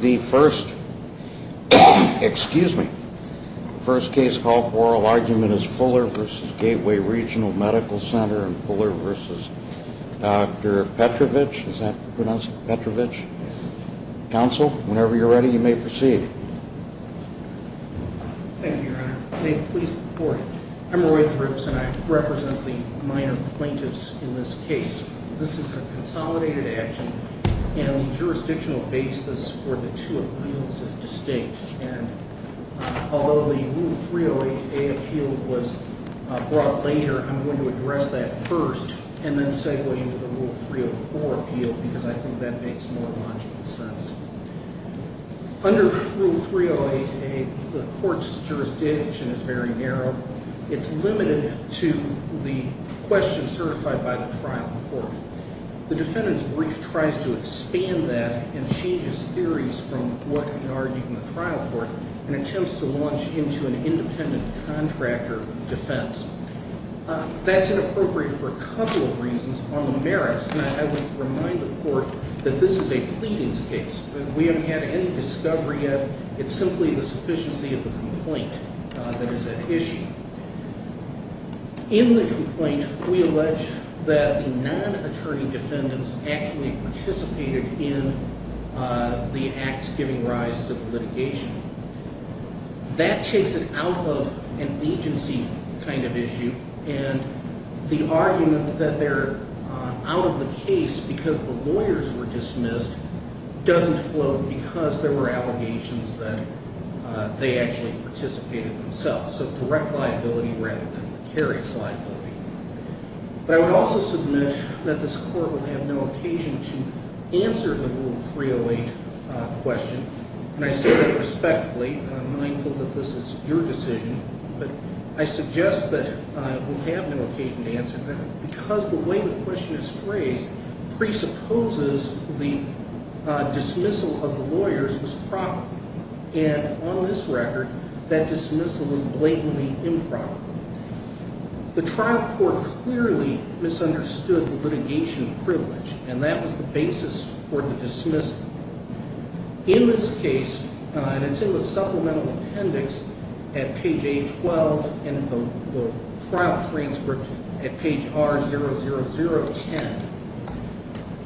The first, excuse me, the first case of oral argument is Fuller v. Gateway Regional Medical Center and Fuller v. Dr. Petrovich. Is that pronounced Petrovich? Yes. Counsel, whenever you're ready you may proceed. Thank you, Your Honor. May the police report. I'm Roy Thrips and I represent the minor plaintiffs in this case. This is a consolidated action and the two appeals is distinct and although the Rule 308A appeal was brought later, I'm going to address that first and then segue into the Rule 304 appeal because I think that makes more logical sense. Under Rule 308A, the court's jurisdiction is very narrow. It's limited to the question certified by the trial court. The defendant's brief tries to expand that and changes theories from what we argued in the trial court and attempts to launch into an independent contractor defense. That's inappropriate for a couple of reasons. On the merits, I would remind the court that this is a pleadings case. We haven't had any discovery yet. It's simply the sufficiency of the complaint that is at issue. In the case itself, it's a direct liability rather than the carrier's liability. But I would also submit that this court would have no occasion to answer the Rule 304 appeal without the Rule 308 question. And I say that respectfully and I'm mindful that this is your decision, but I suggest that we have no occasion to answer that because the way the question is phrased presupposes the dismissal of the lawyers was proper. And on this record, that dismissal is blatantly improper. The trial court clearly misunderstood the litigation privilege and that was the basis for the dismissal. In this case, and it's in the supplemental appendix at page 812 and the trial transcript at page R00010,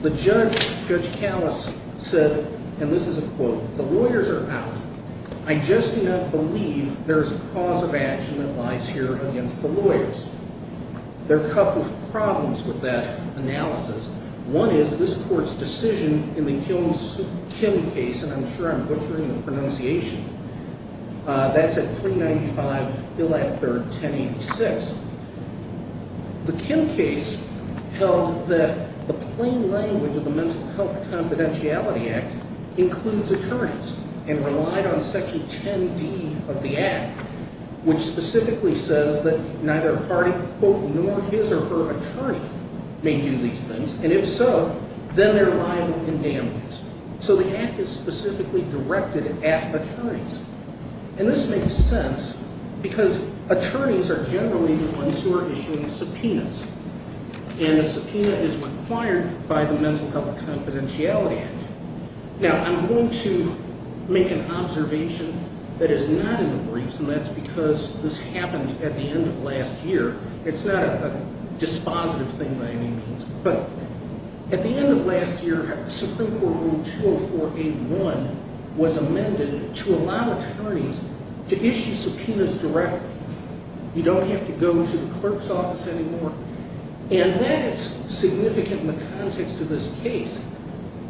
the judge, Judge Callis, said, and this is a quote, the lawyers are out. I just do not believe there is a cause of action that lies here against the lawyers. There are a couple of problems with that analysis. One is this court's decision in the Kim case, and I'm sure I'm butchering the pronunciation, that's at 395 Bill Act III, 1086. The Kim case held that the plain language of the Mental Health Confidentiality Act includes attorneys and relied on Section 10D of the Act, which specifically says that neither a party, quote, nor his or her attorney may do these things. And if so, then they're liable to condemnments. So the Act is specifically directed at attorneys. And this makes sense because attorneys are generally the ones who are issuing subpoenas. And a subpoena is required by the Mental Health Confidentiality Act. Now, I'm going to make an observation that is not in the briefs, and that's because this happened at the end of last year. It's not a dispositive thing by any means. But at the end of last year, Supreme Court Rule 20481 was amended to allow attorneys to issue subpoenas directly. You don't have to go to the clerk's office anymore. And that is significant in the context of this case,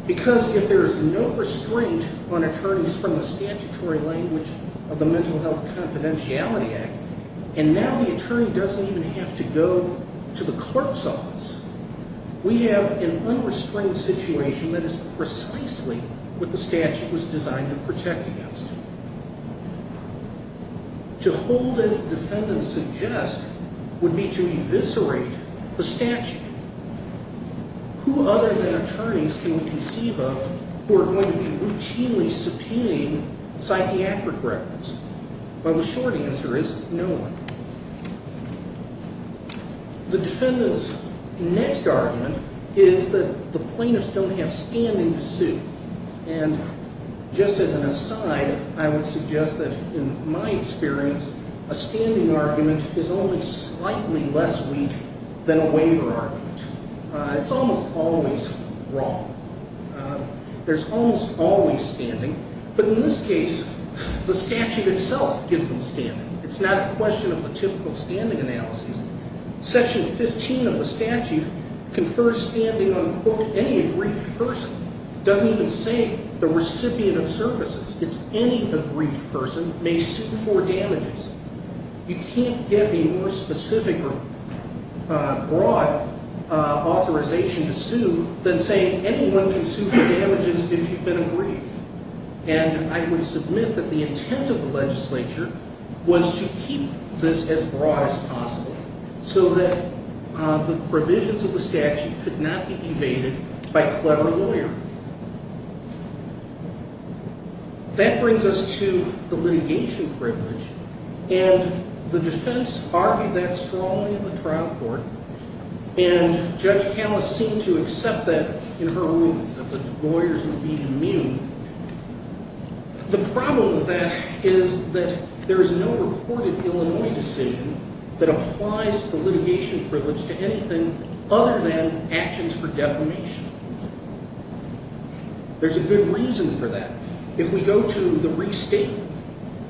because if there is no restraint on attorneys from the statutory language of the Mental Health Confidentiality Act, and now the attorney doesn't even have to go to the clerk's office, we have an unrestrained situation that is precisely what the statute was designed to protect against. To hold, as the defendants suggest, would be to eviscerate the statute. Who other than attorneys can we conceive of who are going to be routinely subpoenaing psychiatric records? Well, the short answer is no one. The defendants' next argument is that the plaintiffs don't have standing to sue. And just as an aside, I would suggest that in my experience, a standing argument is only slightly less weak than a waiver argument. It's almost always wrong. There's almost always standing. But in this case, the statute itself gives them standing. It's not a question of the typical standing analysis. Section 15 of the statute confers standing on, quote, any aggrieved person. It doesn't even say the recipient of services. It's any aggrieved person may sue for damages. You can't get a more specific or broad authorization to sue than saying anyone can sue for damages if you've been aggrieved. And I would submit that the intent of the legislature was to keep this as broad as possible so that the provisions of the statute could not be evaded by clever lawyering. That brings us to the litigation privilege. And the defense argued that strongly in the trial court. And Judge Callis seemed to accept that in her rulings, that the lawyers would be immune. The problem with that is that there is no reported Illinois decision that applies the litigation privilege to anything other than actions for defamation. There's a good reason for that. If we go to the restatement,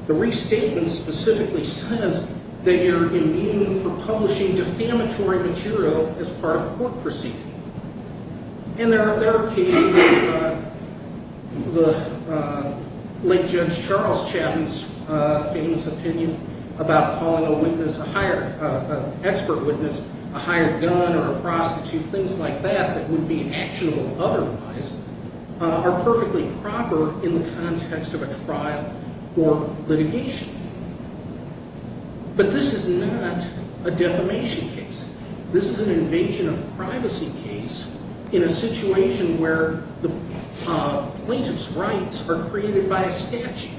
the restatement specifically says that you're immune from publishing defamatory material as part of a court proceeding. And there are cases of the late Judge Charles Chapman's famous opinion about calling an expert witness a hired gun or a prostitute, things like that that would be actionable otherwise, are perfectly proper in the context of a trial or litigation. But this is not a defamation case. This is an invasion of privacy case in a situation where the plaintiff's rights are created by a statute.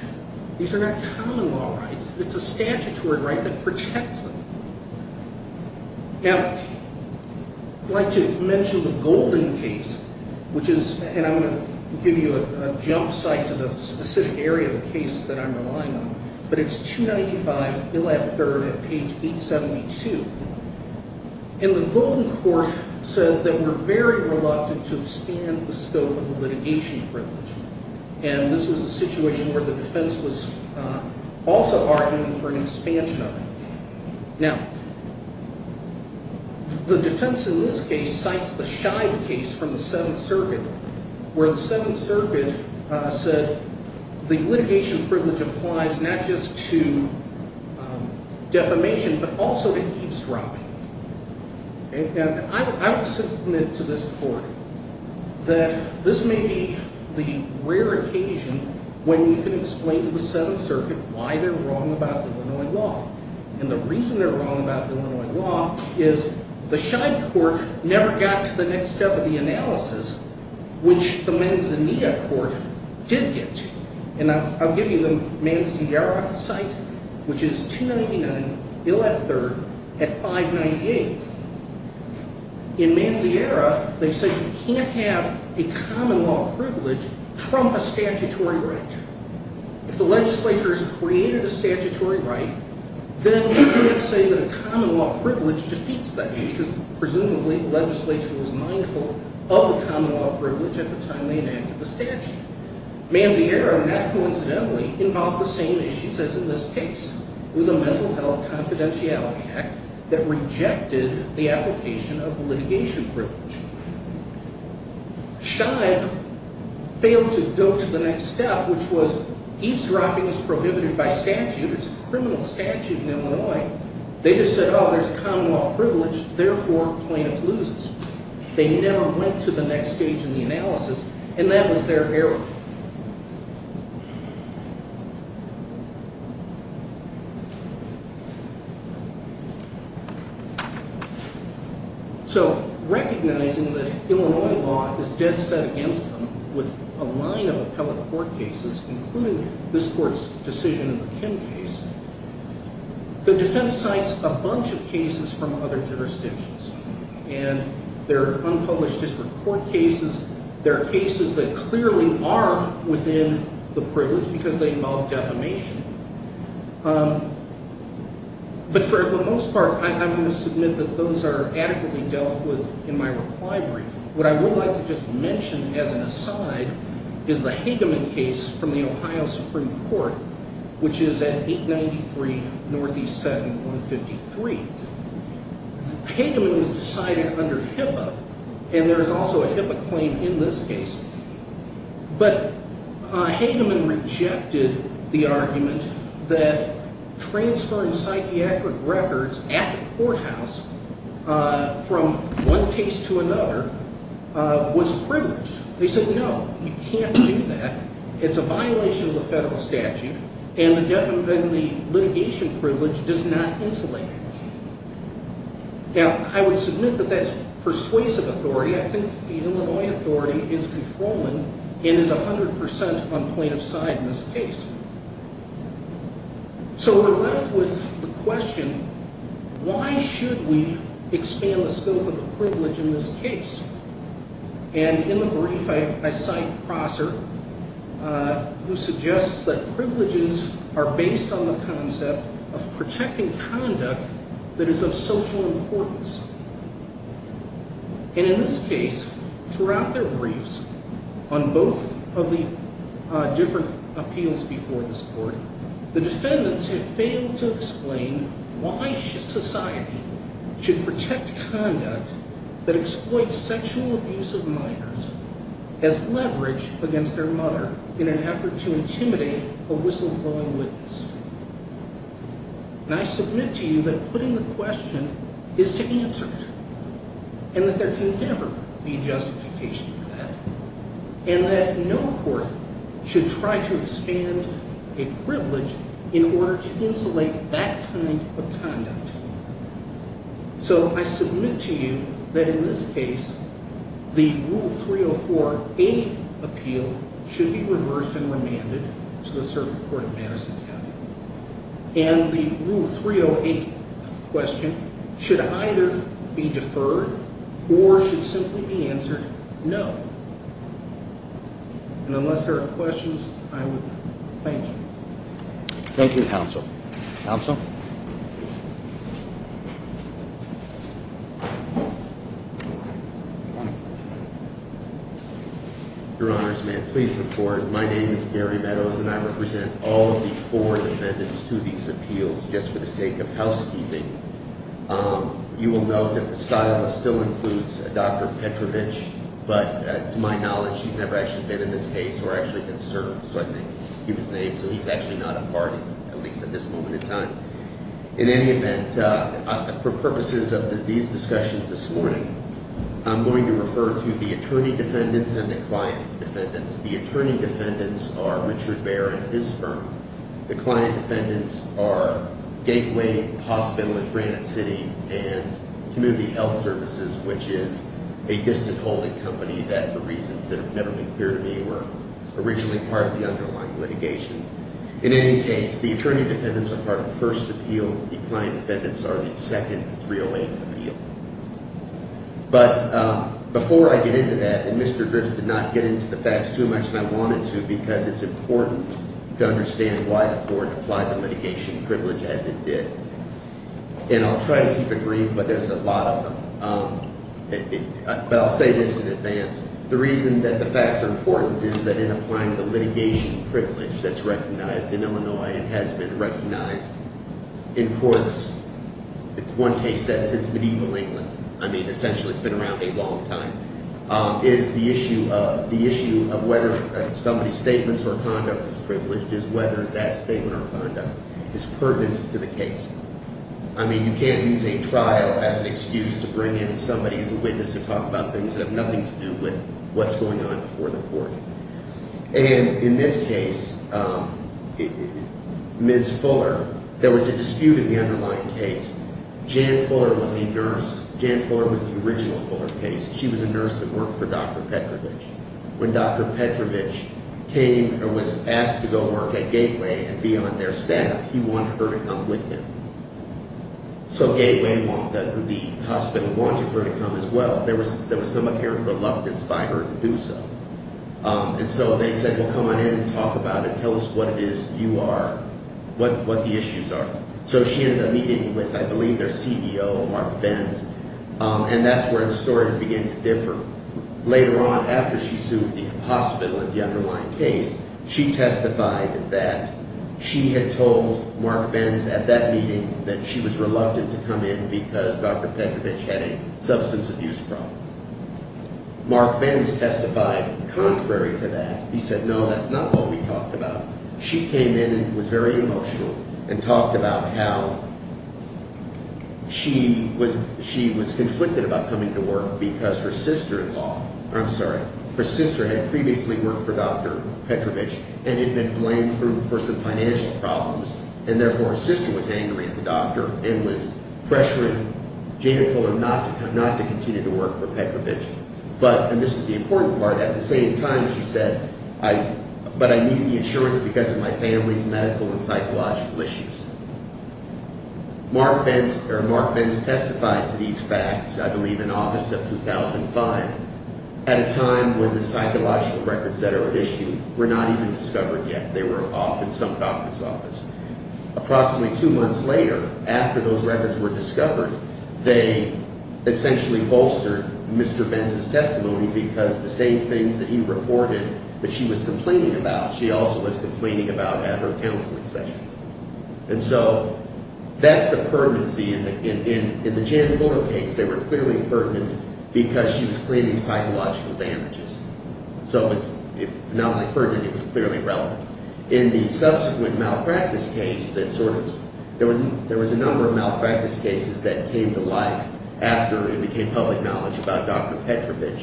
These are not common law rights. It's a statutory right that protects them. Now, I'd like to mention the Golden case, which is, and I'm going to give you a jump site to the specific area of the case that I'm relying on, but it's 295 Illatt 3rd at page 872. And the Golden court said that we're very reluctant to expand the scope of the litigation privilege. And this was a situation where the defense was also arguing for an expansion of it. Now, the defense in this case cites the Scheib case from the Seventh Circuit, where the Seventh Circuit said the litigation privilege applies not just to defamation, but also to eavesdropping. And I would submit to this court that this may be the rare occasion when you can explain to the Seventh Circuit why they're wrong about Illinois law. And the reason they're wrong about Illinois law is the Scheib court never got to the next step of the analysis, which the Manzanilla court did get to. And I'll give you the Manziera site, which is 299 Illatt 3rd at 598. In Manziera, they said you can't have a common law privilege trump a statutory right. If the legislature has created a statutory right, then you can't say that a common law privilege defeats that. Because presumably the legislature was mindful of the common law privilege at the time they enacted the statute. Manziera, not coincidentally, involved the same issues as in this case. It was a mental health confidentiality act that rejected the application of the litigation privilege. Scheib failed to go to the next step, which was eavesdropping is prohibited by statute. It's a criminal statute in Illinois. They just said, oh, there's a common law privilege, therefore plaintiff loses. They never went to the next stage in the analysis, and that was their error. So, recognizing that Illinois law is dead set against them with a line of appellate court cases, including this court's decision in the Kim case, the defense cites a bunch of cases from other jurisdictions. And there are unpublished district court cases. There are cases that clearly are within the privilege because they involve defamation. But for the most part, I'm going to submit that those are adequately dealt with in my reply brief. What I would like to just mention as an aside is the Hageman case from the Ohio Supreme Court, which is at 893 NE 7153. Hageman was decided under HIPAA, and there is also a HIPAA claim in this case. But Hageman rejected the argument that transferring psychiatric records at the courthouse from one case to another was privilege. They said, no, you can't do that. It's a violation of the federal statute, and the defamation privilege does not insulate it. Now, I would submit that that's persuasive authority. I think the Illinois authority is controlling and is 100% on plaintiff's side in this case. So, we're left with the question, why should we expand the scope of the privilege in this case? And in the brief, I cite Prosser, who suggests that privileges are based on the concept of protecting conduct that is of social importance. And in this case, throughout their briefs on both of the different appeals before this court, the defendants have failed to explain why society should protect conduct that exploits sexual abuse of minors as leverage against their mother in an effort to intimidate a whistleblowing witness. And I submit to you that putting the question is to answer it, and that there can never be justification for that, and that no court should try to expand a privilege in order to insulate that kind of conduct. So, I submit to you that in this case, the Rule 304A appeal should be reversed and remanded to the circuit court of Madison County. And the Rule 308 question should either be deferred or should simply be answered no. And unless there are questions, I would thank you. Thank you, Counsel. Counsel? Your Honors, may I please report? My name is Gary Meadows, and I represent all of the four defendants to these appeals just for the sake of housekeeping. You will note that the stylist still includes Dr. Petrovich, but to my knowledge, she's never actually been in this case or actually been served. So I think he was named, so he's actually not a party, at least at this moment in time. In any event, for purposes of these discussions this morning, I'm going to refer to the attorney defendants and the client defendants. The attorney defendants are Richard Bair and his firm. The client defendants are Gateway Hospital in Granite City and Community Health Services, which is a distant holding company that for reasons that have never been clear to me were originally part of the underlying litigation. In any case, the attorney defendants are part of the first appeal. The client defendants are the second and 308th appeal. But before I get into that, and Mr. Griggs did not get into the facts too much, and I wanted to because it's important to understand why the court applied the litigation privilege as it did. And I'll try to keep it brief, but there's a lot of them. But I'll say this in advance. The reason that the facts are important is that in applying the litigation privilege that's recognized in Illinois and has been recognized in courts, one case that's since medieval England, I mean essentially it's been around a long time, is the issue of whether somebody's statements or conduct is privileged is whether that statement or conduct is pertinent to the case. I mean you can't use a trial as an excuse to bring in somebody as a witness to talk about things that have nothing to do with what's going on before the court. And in this case, Ms. Fuller, there was a dispute in the underlying case. Jan Fuller was a nurse. Jan Fuller was the original Fuller case. She was a nurse that worked for Dr. Petrovich. When Dr. Petrovich came or was asked to go work at Gateway and be on their staff, he wanted her to come with him. So Gateway walked up to the hospital and wanted her to come as well. There was some apparent reluctance by her to do so. And so they said, well, come on in, talk about it, tell us what it is you are, what the issues are. So she ended up meeting with, I believe, their CEO, Mark Benz, and that's where the stories began to differ. Later on, after she sued the hospital in the underlying case, she testified that she had told Mark Benz at that meeting that she was reluctant to come in because Dr. Petrovich had a substance abuse problem. Mark Benz testified contrary to that. He said, no, that's not what we talked about. She came in and was very emotional and talked about how she was conflicted about coming to work because her sister-in-law, I'm sorry, her sister had previously worked for Dr. Petrovich and had been blamed for some financial problems, and therefore her sister was angry at the doctor and was pressuring Janet Fuller not to continue to work for Petrovich. But, and this is the important part, at the same time, she said, but I need the insurance because of my family's medical and psychological issues. Mark Benz testified to these facts, I believe in August of 2005, at a time when the psychological records that are at issue were not even discovered yet. They were off in some doctor's office. Approximately two months later, after those records were discovered, they essentially bolstered Mr. Benz's testimony because the same things that he reported that she was complaining about, she also was complaining about at her counseling sessions. And so that's the pertinency. In the Janet Fuller case, they were clearly pertinent because she was claiming psychological damages. So it was, if not only pertinent, it was clearly relevant. In the subsequent malpractice case that sort of, there was a number of malpractice cases that came to life after it became public knowledge about Dr. Petrovich.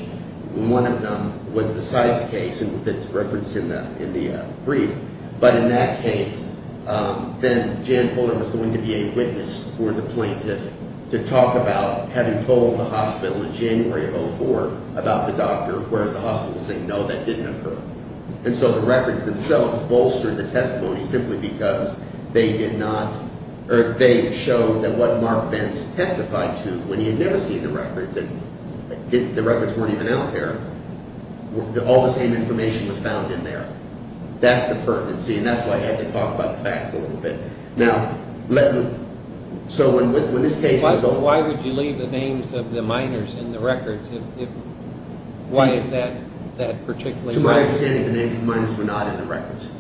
One of them was the Sykes case that's referenced in the brief, but in that case then Janet Fuller was going to be a witness for the plaintiff to talk about having told the hospital in January of 2004 about the doctor, whereas the hospital was saying no, that didn't occur. And so the records themselves bolstered the testimony simply because they did not, or they showed that what Mark Benz testified to, when he had never seen the records, and the records weren't even out there, all the same information was found in there. That's the pertinency, and that's why I had to talk about the facts a little bit. Now, so when this case is over. Why would you leave the names of the minors in the records? To my understanding, the names of the minors were not in the records.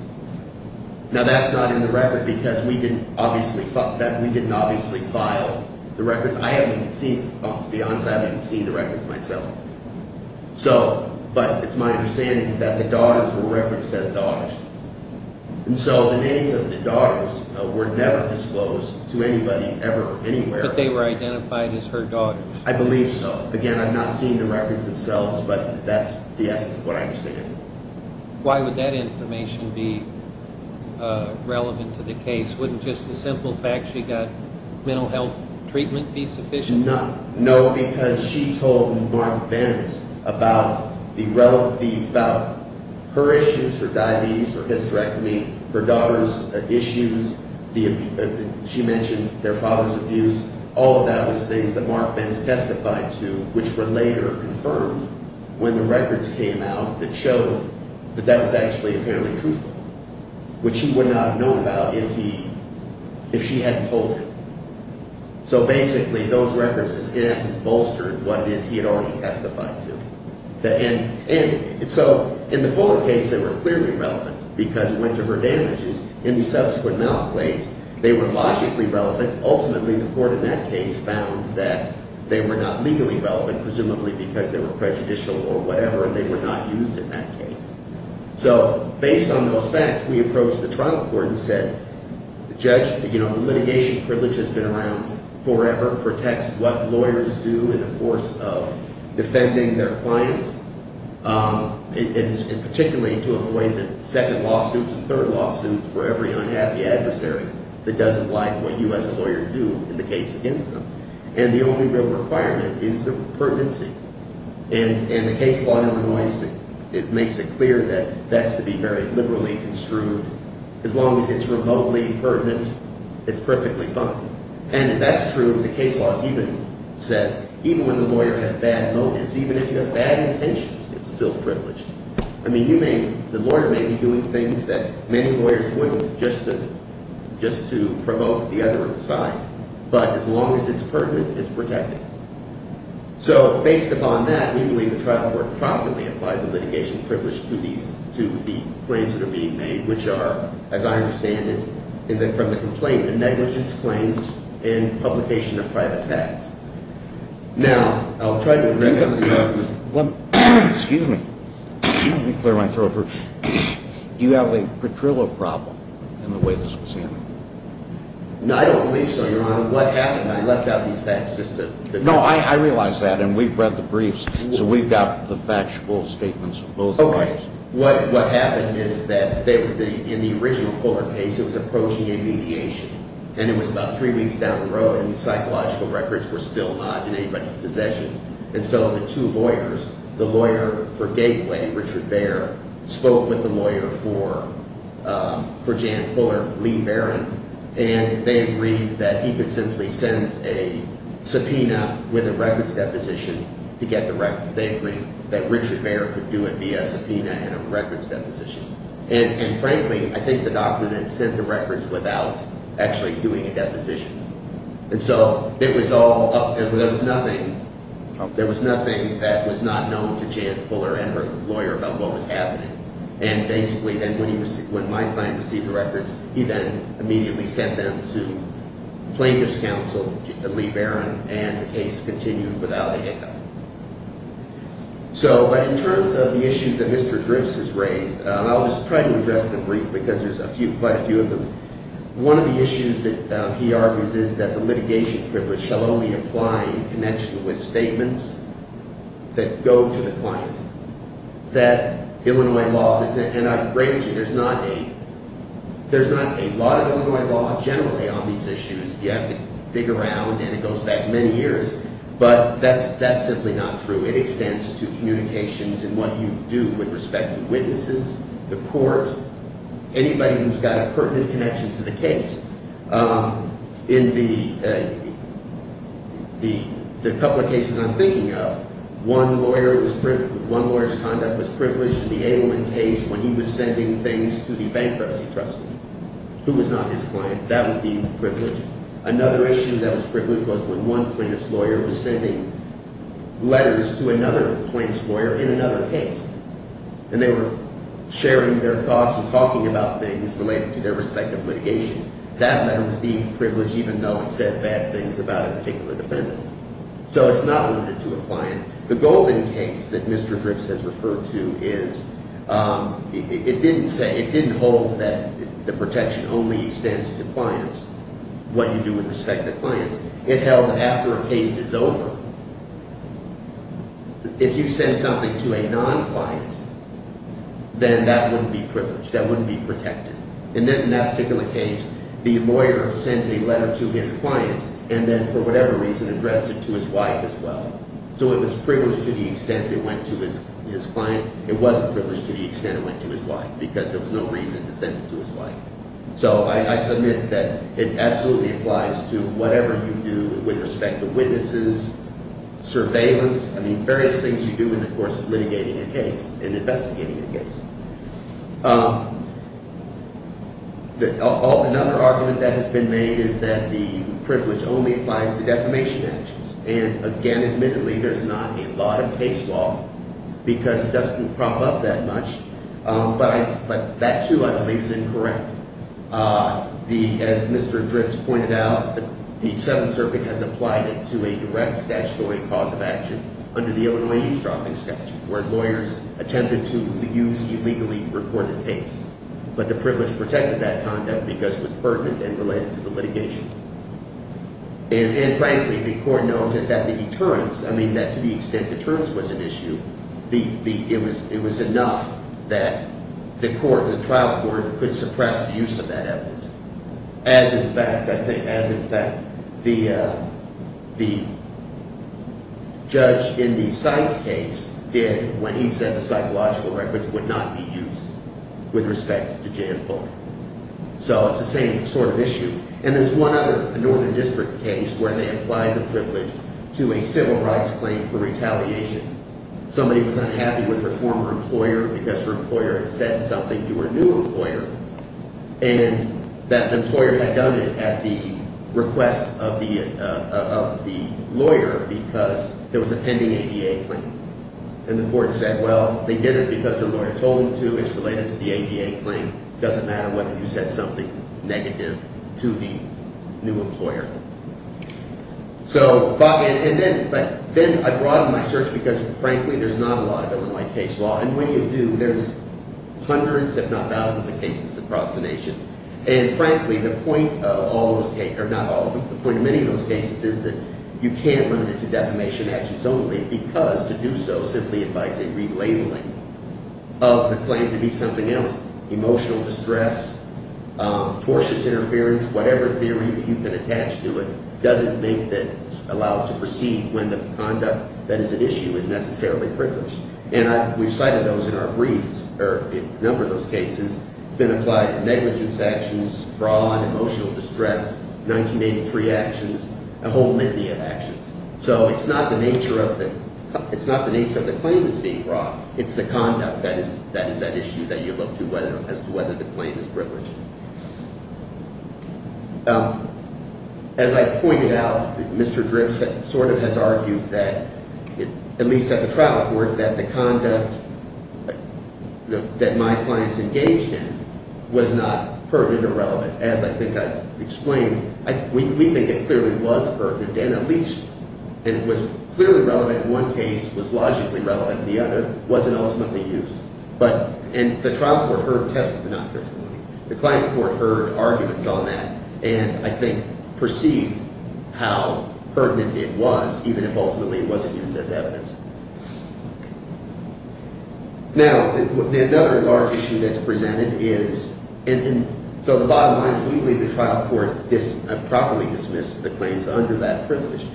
Now that's not in the records because we didn't obviously file the records. I haven't even seen, to be honest, I haven't even seen the records myself. So, but it's my understanding that the daughters were referenced as daughters. And so the names of the daughters were never disclosed to anybody, ever, anywhere. But they were identified as her daughters. I believe so. Again, I'm not seeing the records themselves, but that's the essence of what I understand. Why would that information be relevant to the case? Wouldn't just the simple fact she got mental health treatment be sufficient? No. No, because she told Mark Benz about her issues, her diabetes, her hysterectomy, her daughter's issues, she mentioned their father's abuse. All of that was things that Mark Benz testified to, which were later confirmed when the records came out that showed that that was actually apparently truthful, which he would not have known about if he, if she hadn't told him. So basically, those records in essence bolstered what it is he had already testified to. And so in the Fuller case, they were clearly relevant because it went to her damages. In the subsequent malaclase, they were logically relevant. Ultimately, the court in that case found that they were not legally relevant, presumably because they were prejudicial or whatever, and they were not used in that case. So based on those facts, we approached the trial court and said, the litigation privilege has been around forever, protects what lawyers do in the course of defending their clients, and particularly to avoid the second lawsuits and third lawsuits for every unhappy adversary that doesn't like what you as a lawyer do in the case against them. And the only real requirement is the pertinency. And the case law in Illinois makes it clear that that's to be very liberally construed. As long as it's remotely pertinent, it's perfectly fine. And if that's true, the case law even says, even when the lawyer has bad motives, even if you have bad intentions, it's still privileged. I mean, the lawyer may be doing things that many lawyers wouldn't just to provoke the other side, but as long as it's pertinent, it's protected. So based upon that, we believe the trial court properly applied the litigation privilege to the claims that are being made, which are, as I understand it, from the complaint, the negligence claims and publication of private facts. Now, I'll try to address some of the arguments. Do you have a Petrillo problem in the way this was handled? No, I don't believe so, Your Honor. What happened? I left out these facts just to... No, I realize that, and we've read the briefs, so we've got the factual statements of both of those. Okay. What happened is that in the original fuller case, it was approaching intermediation, and it was about three weeks down the road, and the psychological records were still not in anybody's possession. And so the two lawyers, the lawyer for Gateway, Richard Baer, spoke with the lawyer for Jan Fuller, Lee Barron, and they agreed that he could simply send a subpoena with a records deposition to get the records. They agreed that Richard Baer could do it via subpoena and a records deposition. And frankly, I think the doctor then sent the records without actually doing a deposition. And so there was nothing that was not known to Jan Fuller and her lawyer about what was happening. And basically, when my client received the records, he then immediately sent them to plaintiff's counsel, Lee Barron, and the case continued without a hiccup. But in terms of the issues that Mr. Dripps has raised, I'll just try to address them briefly because there's quite a few of them. One of the issues that he argues is that the litigation privilege shall only apply in connection with statements that go to the client. That Illinois law, and I agree with you, there's not a lot of Illinois law generally on these issues. You have to dig around, and it goes back many years. But that's simply not true. It extends to communications and what you do with respect to witnesses, the court, anybody who's got a pertinent connection to the case. In the couple of cases I'm thinking of, one lawyer's conduct was privileged in the Abelman case when he was sending things to the bankruptcy trustee, who was not his client. That was the privilege. Another issue that was privileged was when one plaintiff's lawyer was sending letters to another plaintiff's lawyer in another case. And they were sharing their thoughts and talking about things related to their respective litigation. That letter was deemed privileged even though it said bad things about a particular defendant. So it's not limited to a client. The Golden case that Mr. Dripps has referred to is it didn't hold that the protection only extends to clients, what you do with respect to clients. It held that after a case is over, if you send something to a non-client, then that wouldn't be privileged. That wouldn't be protected. And then in that particular case, the lawyer sent a letter to his client and then for whatever reason addressed it to his wife as well. So it was privileged to the extent it went to his client. It wasn't privileged to the extent it went to his wife because there was no reason to send it to his wife. So I submit that it absolutely applies to whatever you do with respect to witnesses, surveillance, I mean various things you do in the course of litigating a case and investigating a case. Another argument that has been made is that the privilege only applies to defamation actions. And again, admittedly, there's not a lot of case law because it doesn't crop up that much. But that too I believe is incorrect. As Mr. Dripps pointed out, the Seventh Circuit has applied it to a direct statutory cause of action under the Odoi-Eastroffing statute where lawyers attempted to use illegally recorded tapes. But the privilege protected that conduct because it was pertinent and related to the litigation. And frankly, the Court noted that the deterrence, I mean that to the extent deterrence was an issue, it was enough that the trial court could suppress the use of that evidence. As in fact, I think, as in fact the judge in the Seitz case did when he said the psychological records would not be used with respect to Jan Fulk. So it's the same sort of issue. And there's one other Northern District case where they applied the privilege to a civil rights claim for retaliation. Somebody was unhappy with their former employer because her employer had said something to her new employer and that the employer had done it at the request of the lawyer because there was a pending ADA claim. And the Court said, well, they did it because her lawyer told them to. It's related to the ADA claim. It doesn't matter whether you said something negative to the new employer. So, and then I broaden my search because frankly there's not a lot of it in my case law. And when you do, there's hundreds if not thousands of cases across the nation. And frankly, the point of all those cases, or not all of them, the point of many of those cases is that you can't limit it to defamation actions only because to do so simply invites a relabeling of the claim to be something else. Emotional distress, tortuous interference, whatever theory you can attach to it doesn't make it allowed to proceed when the conduct that is at issue is necessarily privileged. And we've cited those in our briefs, or a number of those cases. It's been applied to negligence actions, fraud, emotional distress, 1983 actions, a whole litany of actions. So it's not the nature of the claim that's being brought. It's the conduct that is at issue that you look to as to whether the claim is privileged. As I pointed out, Mr. Dripps sort of has argued that, at least at the time, the conduct that my clients engaged in was not pertinent or relevant. As I think I've explained, we think it clearly was pertinent, and at least it was clearly relevant in one case, was logically relevant in the other, wasn't ultimately used. And the trial court heard testimonies. The client court heard arguments on that, and I think perceived how pertinent it was, even if ultimately it wasn't used as an argument. Now, another large issue that's presented is, and so the bottom line is we believe the trial court properly dismissed the claims under that privilege.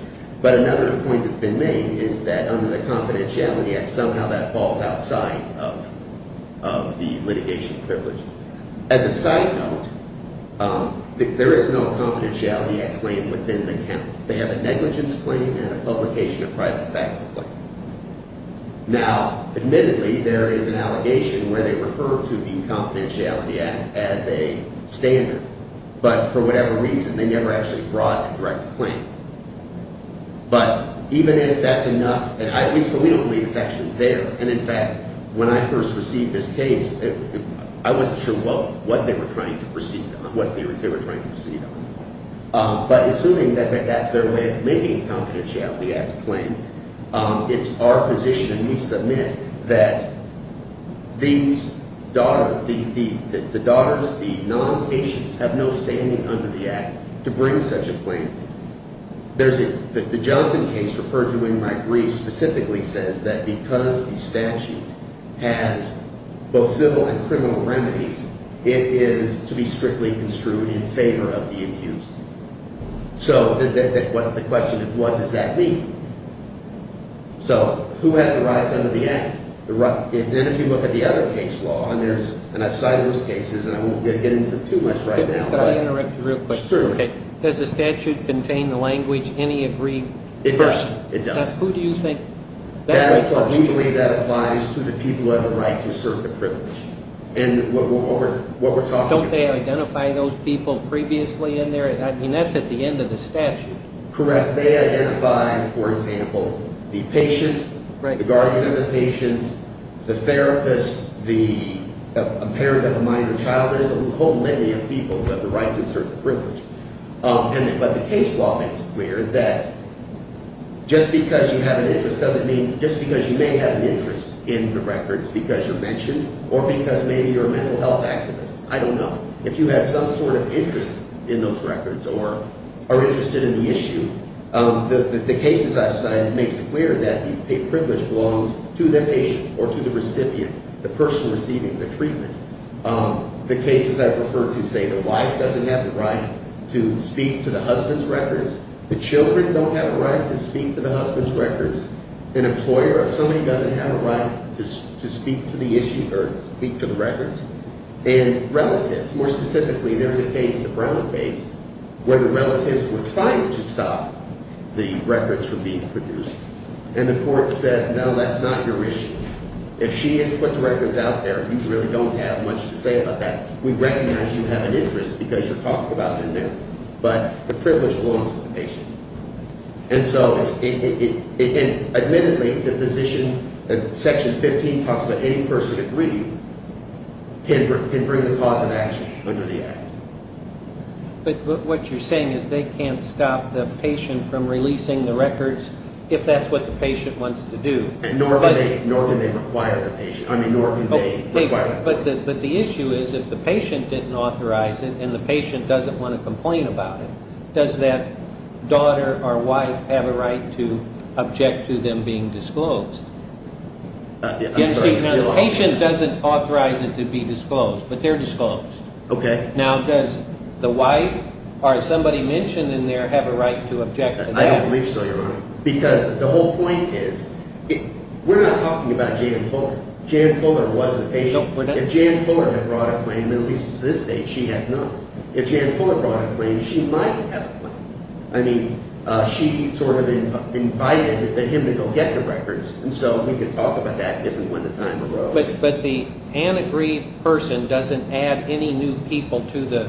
But another point that's been made is that under the Confidentiality Act, somehow that falls outside of the litigation privilege. As a side note, there is no Confidentiality Act claim within the count. They have a negligence claim and a publication of private facts claim. Now, admittedly, there is an allegation where they refer to the Confidentiality Act as a standard, but for whatever reason, they never actually brought a direct claim. But even if that's enough, and at least we don't believe it's actually there, and in fact, when I first received this case, I wasn't sure what they were trying to proceed on, what theories they were trying to proceed on. But assuming that that's their way of making the Confidentiality Act claim, it's our position, and we submit that the daughters, the non-patients, have no standing under the Act to bring such a claim. The Johnson case referred to in my brief specifically says that because the statute has both civil and criminal remedies, it is to be strictly construed in favor of the accused. So, the question is, what does that mean? So, who has the rights under the Act? Then if you look at the other case law, and I've cited those cases, and I won't get into too much right now. Does the statute contain the language, any agreed? It does. Who do you think? We believe that applies to the people who have the right to assert their privilege. Don't they identify those people previously in there? I mean, that's at the end of the statute. Correct. They identify, for example, the patient, the guardian of the patient, the therapist, a parent of a minor child. There's a whole lineage of people who have the right to assert their privilege. But the case law makes it clear that just because you may have an interest in the records because you're mentioned, or because maybe you're a mental health activist, I don't know. If you have some sort of interest in those records or are interested in the issue, the cases I've cited makes it clear that the privilege belongs to the patient or to the recipient, the person receiving the treatment. The cases I've referred to say the wife doesn't have the right to speak to the husband's records. The children don't have a right to speak to the husband's records. An employer, if somebody doesn't have a right to speak to the issue or speak to the records. And relatives, more specifically, there's a case, the Brown case, where the relatives were trying to stop the records from being produced. And the court said, no, that's not your issue. If she has put the records out there and you really don't have much to say about that, we recognize you have an interest because you're talked about in there. But the privilege belongs to the patient. And so, admittedly, the position, section 15 talks about any person agreed can bring a cause of action under the act. But what you're saying is they can't stop the patient from releasing the records if that's what the patient wants to do. Nor can they require the patient. I mean, nor can they require the patient. But the issue is if the patient didn't authorize it and the patient doesn't want to complain about it, does that daughter or wife have a right to object to them being disclosed? The patient doesn't authorize it to be disclosed, but they're disclosed. Now, does the wife or somebody mentioned in there have a right to object to that? I don't believe so, Your Honor. Because the whole point is we're not talking about Jan Fuller. Jan Fuller was a patient. If Jan Fuller had brought a claim, at least to this date, she has not. If Jan Fuller brought a claim, she might have a claim. I mean, she sort of invited him to go get the records. And so we could talk about that if and when the time arose. But the unagreed person doesn't add any new people to the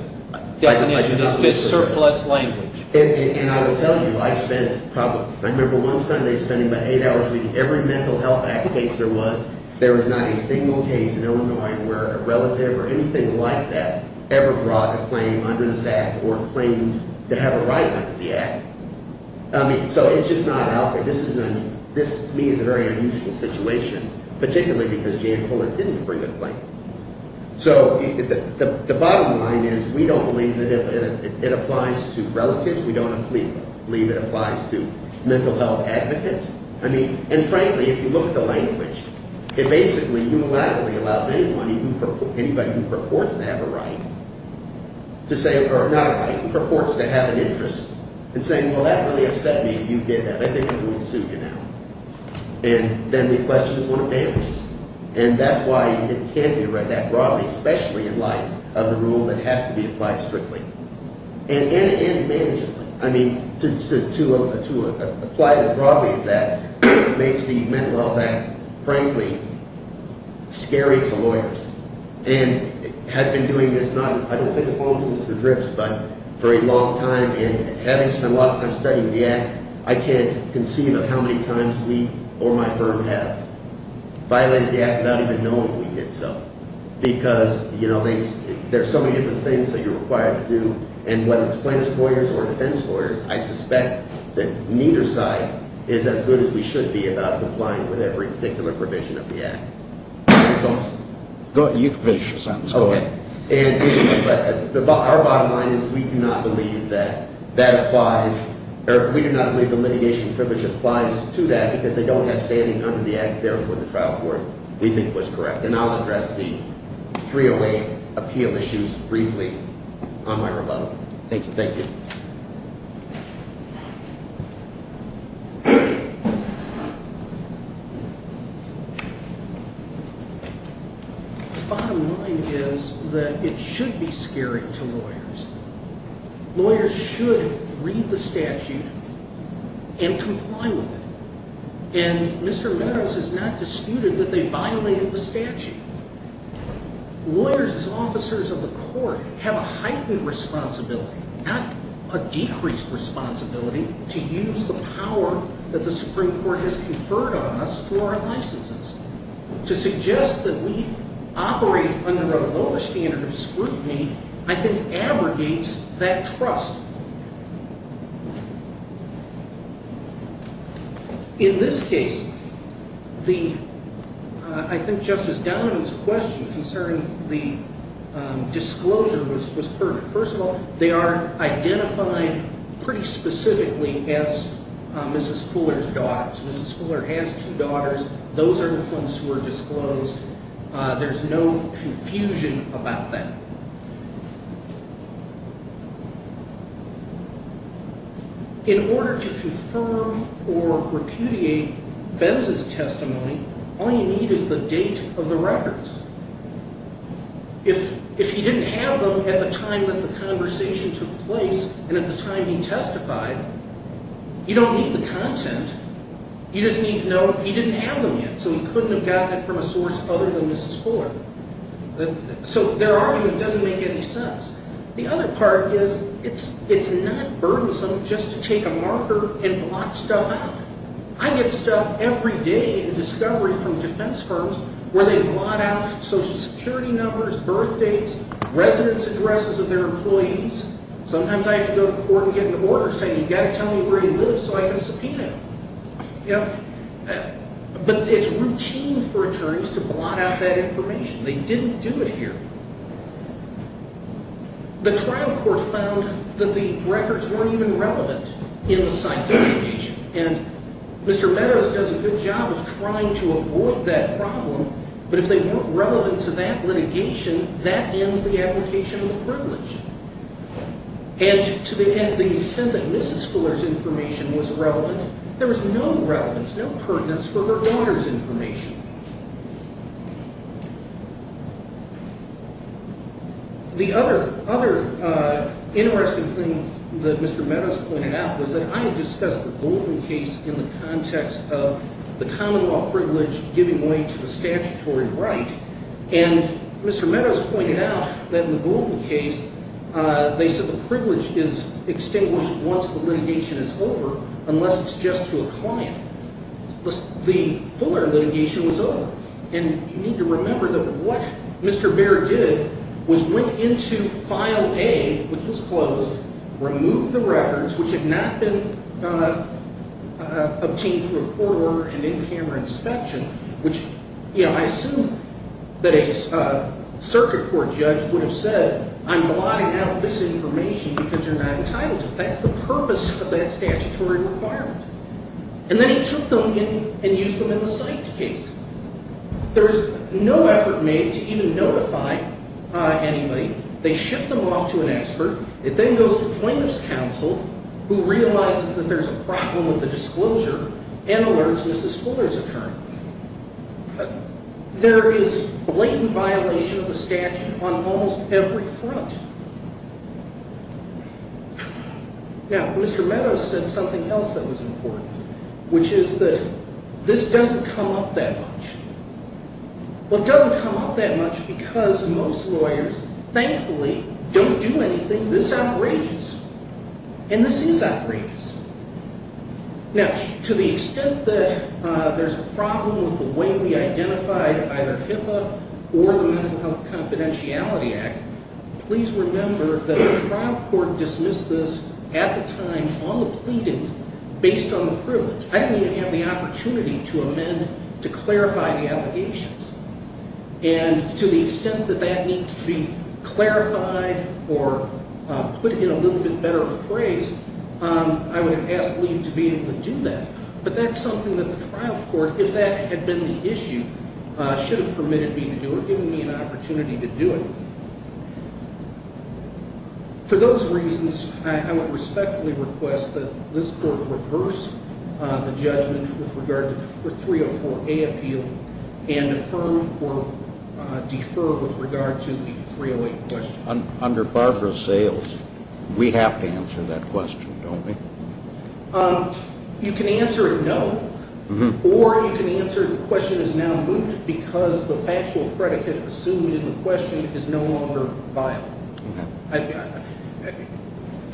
definition of this surplus language. And I will tell you, I spent probably, I remember one Sunday spending about eight hours reading every Mental Health Act case there was. There was not a single case in Illinois where a relative or anything like that ever brought a claim under this act or claimed to have a right under the act. So it's just not out there. This to me is a very unusual situation, particularly because Jan Fuller didn't bring a claim. So the bottom line is we don't believe that it applies to relatives. We don't believe it applies to mental health advocates. I mean, and frankly, if you look at the language, it basically unilaterally allows anybody who purports to have a right to say, or not a right, who purports to have an interest in saying, well, that really upset me. You get that. I think I'm going to sue you now. And then the question is what it damages. And that's why it can't be read that broadly, especially in light of the rule that has to be applied strictly. And manageably. I mean, to apply it as broadly as that makes the Mental Health Act frankly scary to lawyers. And had I been doing this, I don't think it would have fallen through the grips, but for a long time, and having spent a lot of time studying the act, I can't conceive of how many times we or my firm have violated the act without even knowing we did so. Because there's so many different things that you're required to do, and whether it's plaintiff's lawyers or defense lawyers, I suspect that neither side is as good as we should be about applying with every particular provision of the act. That's all. Our bottom line is we do not believe that that applies, or we do not believe the litigation privilege applies to that because they don't have standing under the act. Therefore, the trial court we think was correct. And I'll address the 308 appeal issues briefly on my rebuttal. Thank you. The bottom line is that it should be scary to lawyers. Lawyers should read the statute and comply with it. And Mr. Meadows has not disputed that they violated the statute. Lawyers as officers of the court have a heightened responsibility, not a decreased responsibility, to use the power that the Supreme Court has conferred on us for our licenses. To suggest that we operate under a lower standard of scrutiny, I think, abrogates that trust. In this case, the I think Justice Donovan's question concerning the disclosure was perfect. First of all, they are identified pretty specifically as Mrs. Fuller's two daughters. Those are the ones who were disclosed. There's no confusion about that. In order to confirm or repudiate Benz's testimony, all you need is the date of the records. If you didn't have them at the time that the conversation took place you just need to know he didn't have them yet, so he couldn't have gotten it from a source other than Mrs. Fuller. So their argument doesn't make any sense. The other part is it's not burdensome just to take a marker and blot stuff out. I get stuff every day in discovery from defense firms where they blot out social security numbers, birth dates, residence addresses of their employees. Sometimes I have to go to court and get an order saying you've got to tell me where he lives so I can subpoena him. But it's routine for attorneys to blot out that information. They didn't do it here. The trial court found that the records weren't even relevant in the site's litigation. And Mr. Meadows does a good job of trying to avoid that problem, but if they weren't relevant to that litigation, that ends the application of the privilege. And to the extent that that information was relevant, there was no relevance, no pertinence for her daughter's information. The other interesting thing that Mr. Meadows pointed out was that I had discussed the Goldman case in the context of the common law privilege giving way to the statutory right, and Mr. Meadows pointed out that in the Goldman case they said the privilege is extinguished once the litigation is over unless it's just to a client. The Fuller litigation was over. And you need to remember that what Mr. Bair did was went into file A, which was closed, removed the records, which had not been obtained through a court order and in-camera inspection, which I assume that a circuit court judge would have said, I'm giving you this information because you're not entitled to it. That's the purpose of that statutory requirement. And then he took them in and used them in the Sykes case. There's no effort made to even notify anybody. They ship them off to an expert. It then goes to plaintiff's counsel, who realizes that there's a problem with the disclosure and alerts Mrs. Fuller's attorney. There is blatant violation of the statute on almost every front. Now, Mr. Meadows said something else that was important, which is that this doesn't come up that much. Well, it doesn't come up that much because most lawyers, thankfully, don't do anything this outrageous. And this is outrageous. Now, to the extent that there's a problem with the way we identified either HIPAA or Mental Health Confidentiality Act, please remember that the trial court dismissed this at the time on the pleadings based on the privilege. I didn't even have the opportunity to amend, to clarify the allegations. And to the extent that that needs to be clarified or put in a little bit better of a phrase, I would have asked leave to be able to do that. But that's something that the trial court, if that had been the issue, should have permitted me to do it, given me an opportunity to do it. For those reasons, I would respectfully request that this court reverse the judgment with regard to the 304A appeal and affirm or defer with regard to the 308 question. Under Barbara Sayles, we have to answer that question, don't we? You can answer it no, or you can answer it because the factual predicate assumed in the question is no longer viable.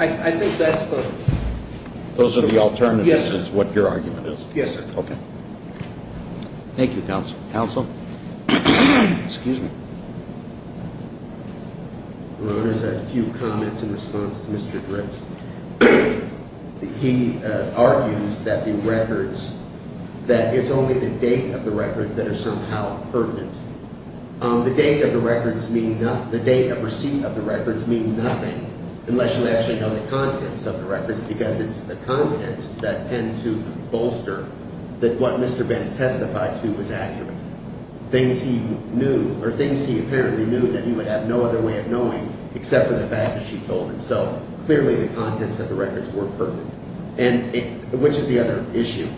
I think that's the... Those are the alternatives, is what your argument is? Yes, sir. Thank you, counsel. Excuse me. I just had a few comments in response to Mr. Dritz. He argues that the records, that it's only the date of the records that are somehow pertinent. The date of receipt of the records mean nothing unless you actually know the contents of the records, because it's the contents that tend to bolster that what Mr. Benz testified to was accurate. Things he knew, or things he apparently knew that he would have no other way of knowing except for the fact that she told him. So clearly the contents of the records were pertinent. And which is the other issue?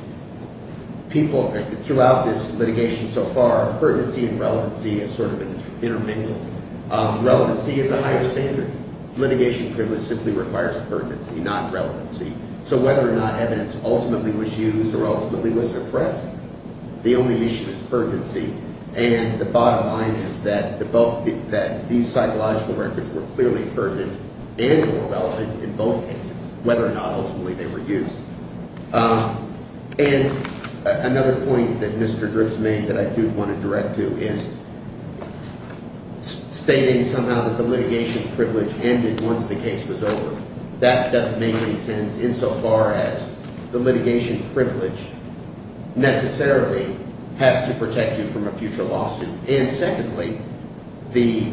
People, throughout this litigation so far, pertinency and relevancy have sort of been intermingled. Relevancy is a higher standard. Litigation privilege simply requires pertinency, not relevancy. So whether or not evidence ultimately was used or ultimately was suppressed, the only issue is pertinency. And the bottom line is that these psychological records were clearly pertinent and were relevant in both cases, whether or not ultimately they were used. And another point that Mr. Griggs made that I do want to direct to is stating somehow that the litigation privilege ended once the case was over. That doesn't make any sense insofar as the litigation privilege necessarily has to protect you from a future lawsuit. And secondly, the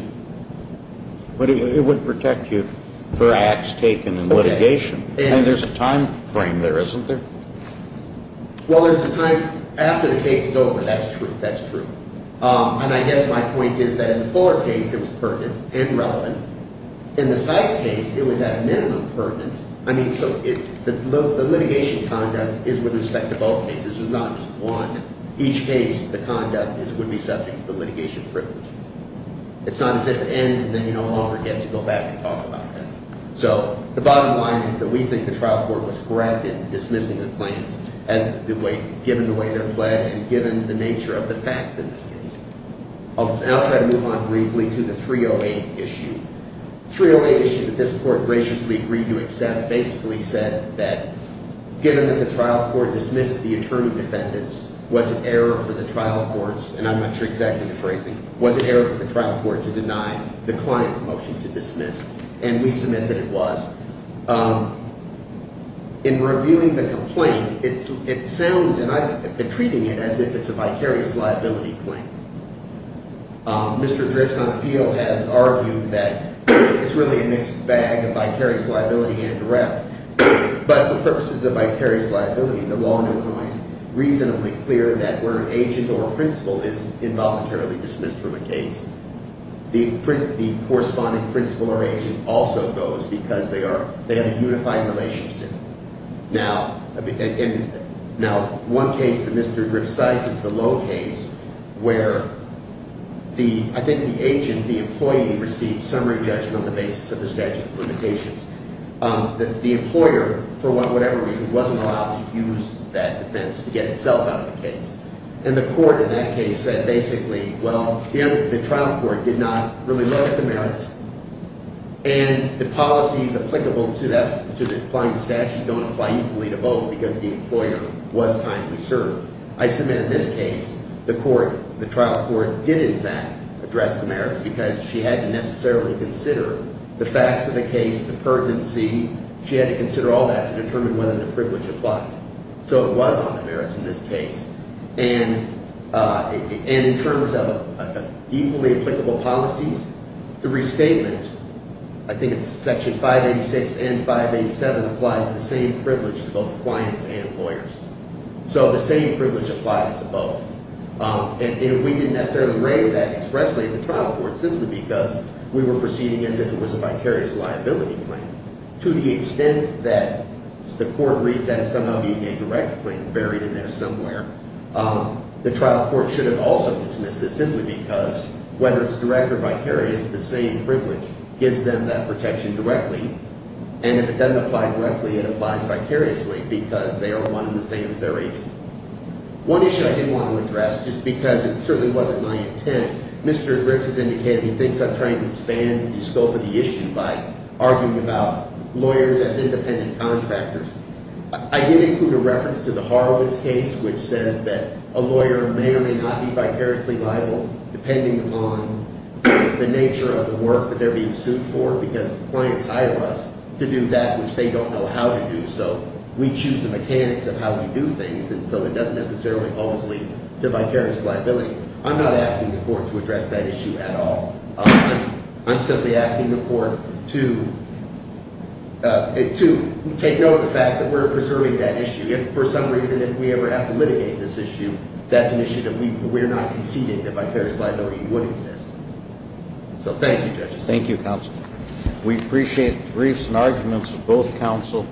It would protect you for acts taken in litigation. And there's a time frame there, isn't there? Well, there's a time after the case is over. That's true. And I guess my point is that in the Fuller case, it was pertinent and relevant. In the Sykes case, it was at minimum pertinent. The litigation conduct is with respect to both cases. It's not just one. Each case, the conduct would be subject to the litigation privilege. It's not as if it ends and then you no longer get to go back and talk about that. So the bottom line is that we think the trial court was correct in dismissing the claims, given the way they're fled and given the nature of the facts in this case. And I'll try to move on briefly to the 308 issue. The 308 issue that this Court graciously agreed to accept basically said that, given that the trial court dismissed the attorney defendants, was it error for the trial court's and I'm not sure exactly the phrasing, was it error for the trial court to deny the client's motion to dismiss? And we submit that it was. In reviewing the complaint, it sounds and I've been treating it as if it's a vicarious liability claim. Mr. Dripps on appeal has argued that it's really a mixed bag of vicarious liability and direct. But the purpose is a vicarious liability. The law now makes reasonably clear that where an agent or a principal is involuntarily dismissed from a case, the corresponding principal or agent also goes because they have a unified relationship. Now, one case that Mr. Dripps cites is the Lowe case where I think the agent, the employee received summary judgment on the basis of the statute of limitations. The employer, for whatever reason, wasn't allowed to use that defense to get itself out of the case. And the court in that case said basically, well, the trial court did not really look at the merits and the policies applicable to the client's statute don't apply equally to both because the employer was kindly served. I submit in this case, the trial court did in fact address the merits because she hadn't necessarily considered the facts of the case, the pertinency. She had to consider all that to determine whether the privilege applied. So it was on the merits in this case. And in terms of equally applicable policies, the restatement, I think it's section 586 and 587, applies the same privilege to both clients and employers. So the same privilege applies to both. And we didn't necessarily raise that expressly at the trial court simply because we were proceeding as if it was a vicarious liability claim to the extent that the court reads that as somehow being a liability. The trial court should have also dismissed this simply because whether it's direct or vicarious, the same privilege gives them that protection directly. And if it doesn't apply directly, it applies vicariously because they are one and the same as their agent. One issue I did want to address, just because it certainly wasn't my intent, Mr. Griffiths indicated he thinks I'm trying to expand the scope of the issue by arguing about lawyers as independent contractors. I did include a reference to the Horowitz case which says that a lawyer may or may not be vicariously liable depending upon the nature of the work that they're being sued for because clients hire us to do that which they don't know how to do. So we choose the mechanics of how we do things and so it doesn't necessarily always lead to vicarious liability. I'm not asking the court to address that issue at all. I'm simply asking the court to take note of the fact that we're preserving that issue. If for some reason we ever have to litigate this issue that's an issue that we're not conceding that vicarious liability would exist. So thank you judges. Thank you counsel. We appreciate the briefs and arguments of both counsel.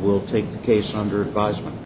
We'll take the case under advisement.